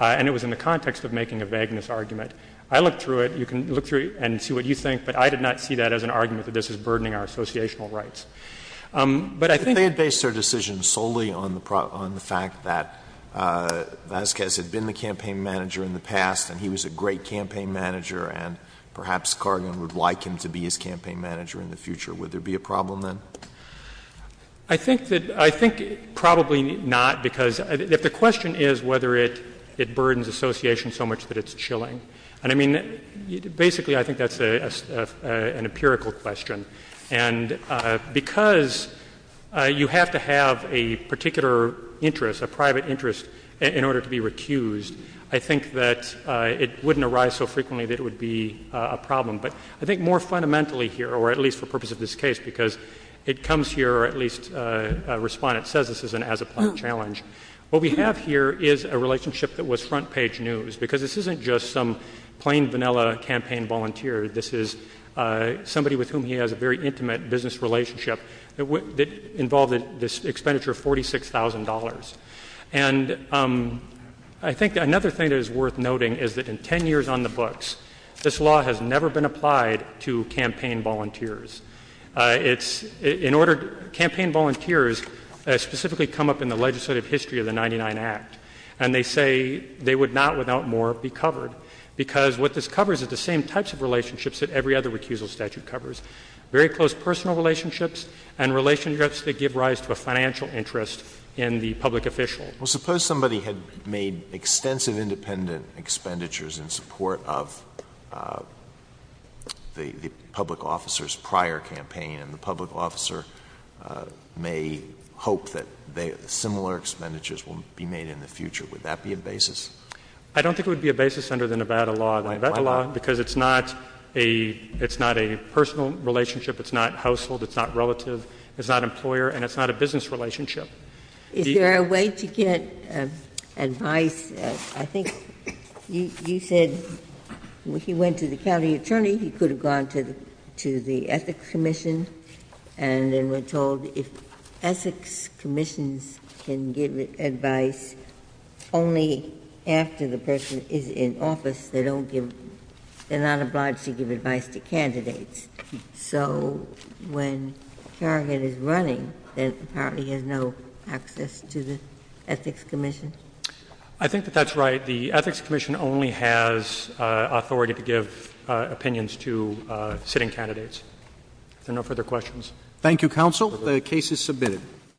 and it was in the context of making a vagueness argument. I looked through it. You can look through it and see what you think, but I did not see that as an argument that this is burdening our associational rights. But I think — Vasquez had been the campaign manager in the past, and he was a great campaign manager, and perhaps Cargan would like him to be his campaign manager in the future. Would there be a problem then? I think that — I think probably not, because if the question is whether it burdens association so much that it's chilling. And I mean, basically, I think that's an empirical question. And because you have to have a particular interest, a private interest, in order to be recused, I think that it wouldn't arise so frequently that it would be a problem. But I think more fundamentally here, or at least for purpose of this case, because it comes here, or at least a respondent says this is an as-a-plan challenge. What we have here is a relationship that was front-page news, because this isn't just some plain vanilla campaign volunteer. This is somebody with whom he has a very intimate business relationship that involved this expenditure of $46,000. And I think another thing that is worth noting is that in 10 years on the books, this law has never been applied to campaign volunteers. It's — in order — campaign volunteers specifically come up in the legislative history of the 99 Act. And they say they would not, without more, be covered, because what this covers is the same types of relationships that every other recusal statute covers, very close personal relationships and relationships that give rise to a financial interest in the public official. Well, suppose somebody had made extensive independent expenditures in support of the public officer's prior campaign, and the public officer may hope that similar expenditures will be made in the future. Would that be a basis? I don't think it would be a basis under the Nevada law. The Nevada law, because it's not a — it's not a personal relationship. It's not household. It's not relative. It's not employer. And it's not a business relationship. Is there a way to get advice? I think you said when he went to the county attorney, he could have gone to the Ethics Commission, and then were told if Ethics Commissions can give advice only after the person is in office, they don't give — they're not obliged to give advice to candidates. So when Karagan is running, then apparently he has no access to the Ethics Commission? I think that that's right. The Ethics Commission only has authority to give opinions to sitting candidates. Are there no further questions? Thank you, counsel. The case is submitted.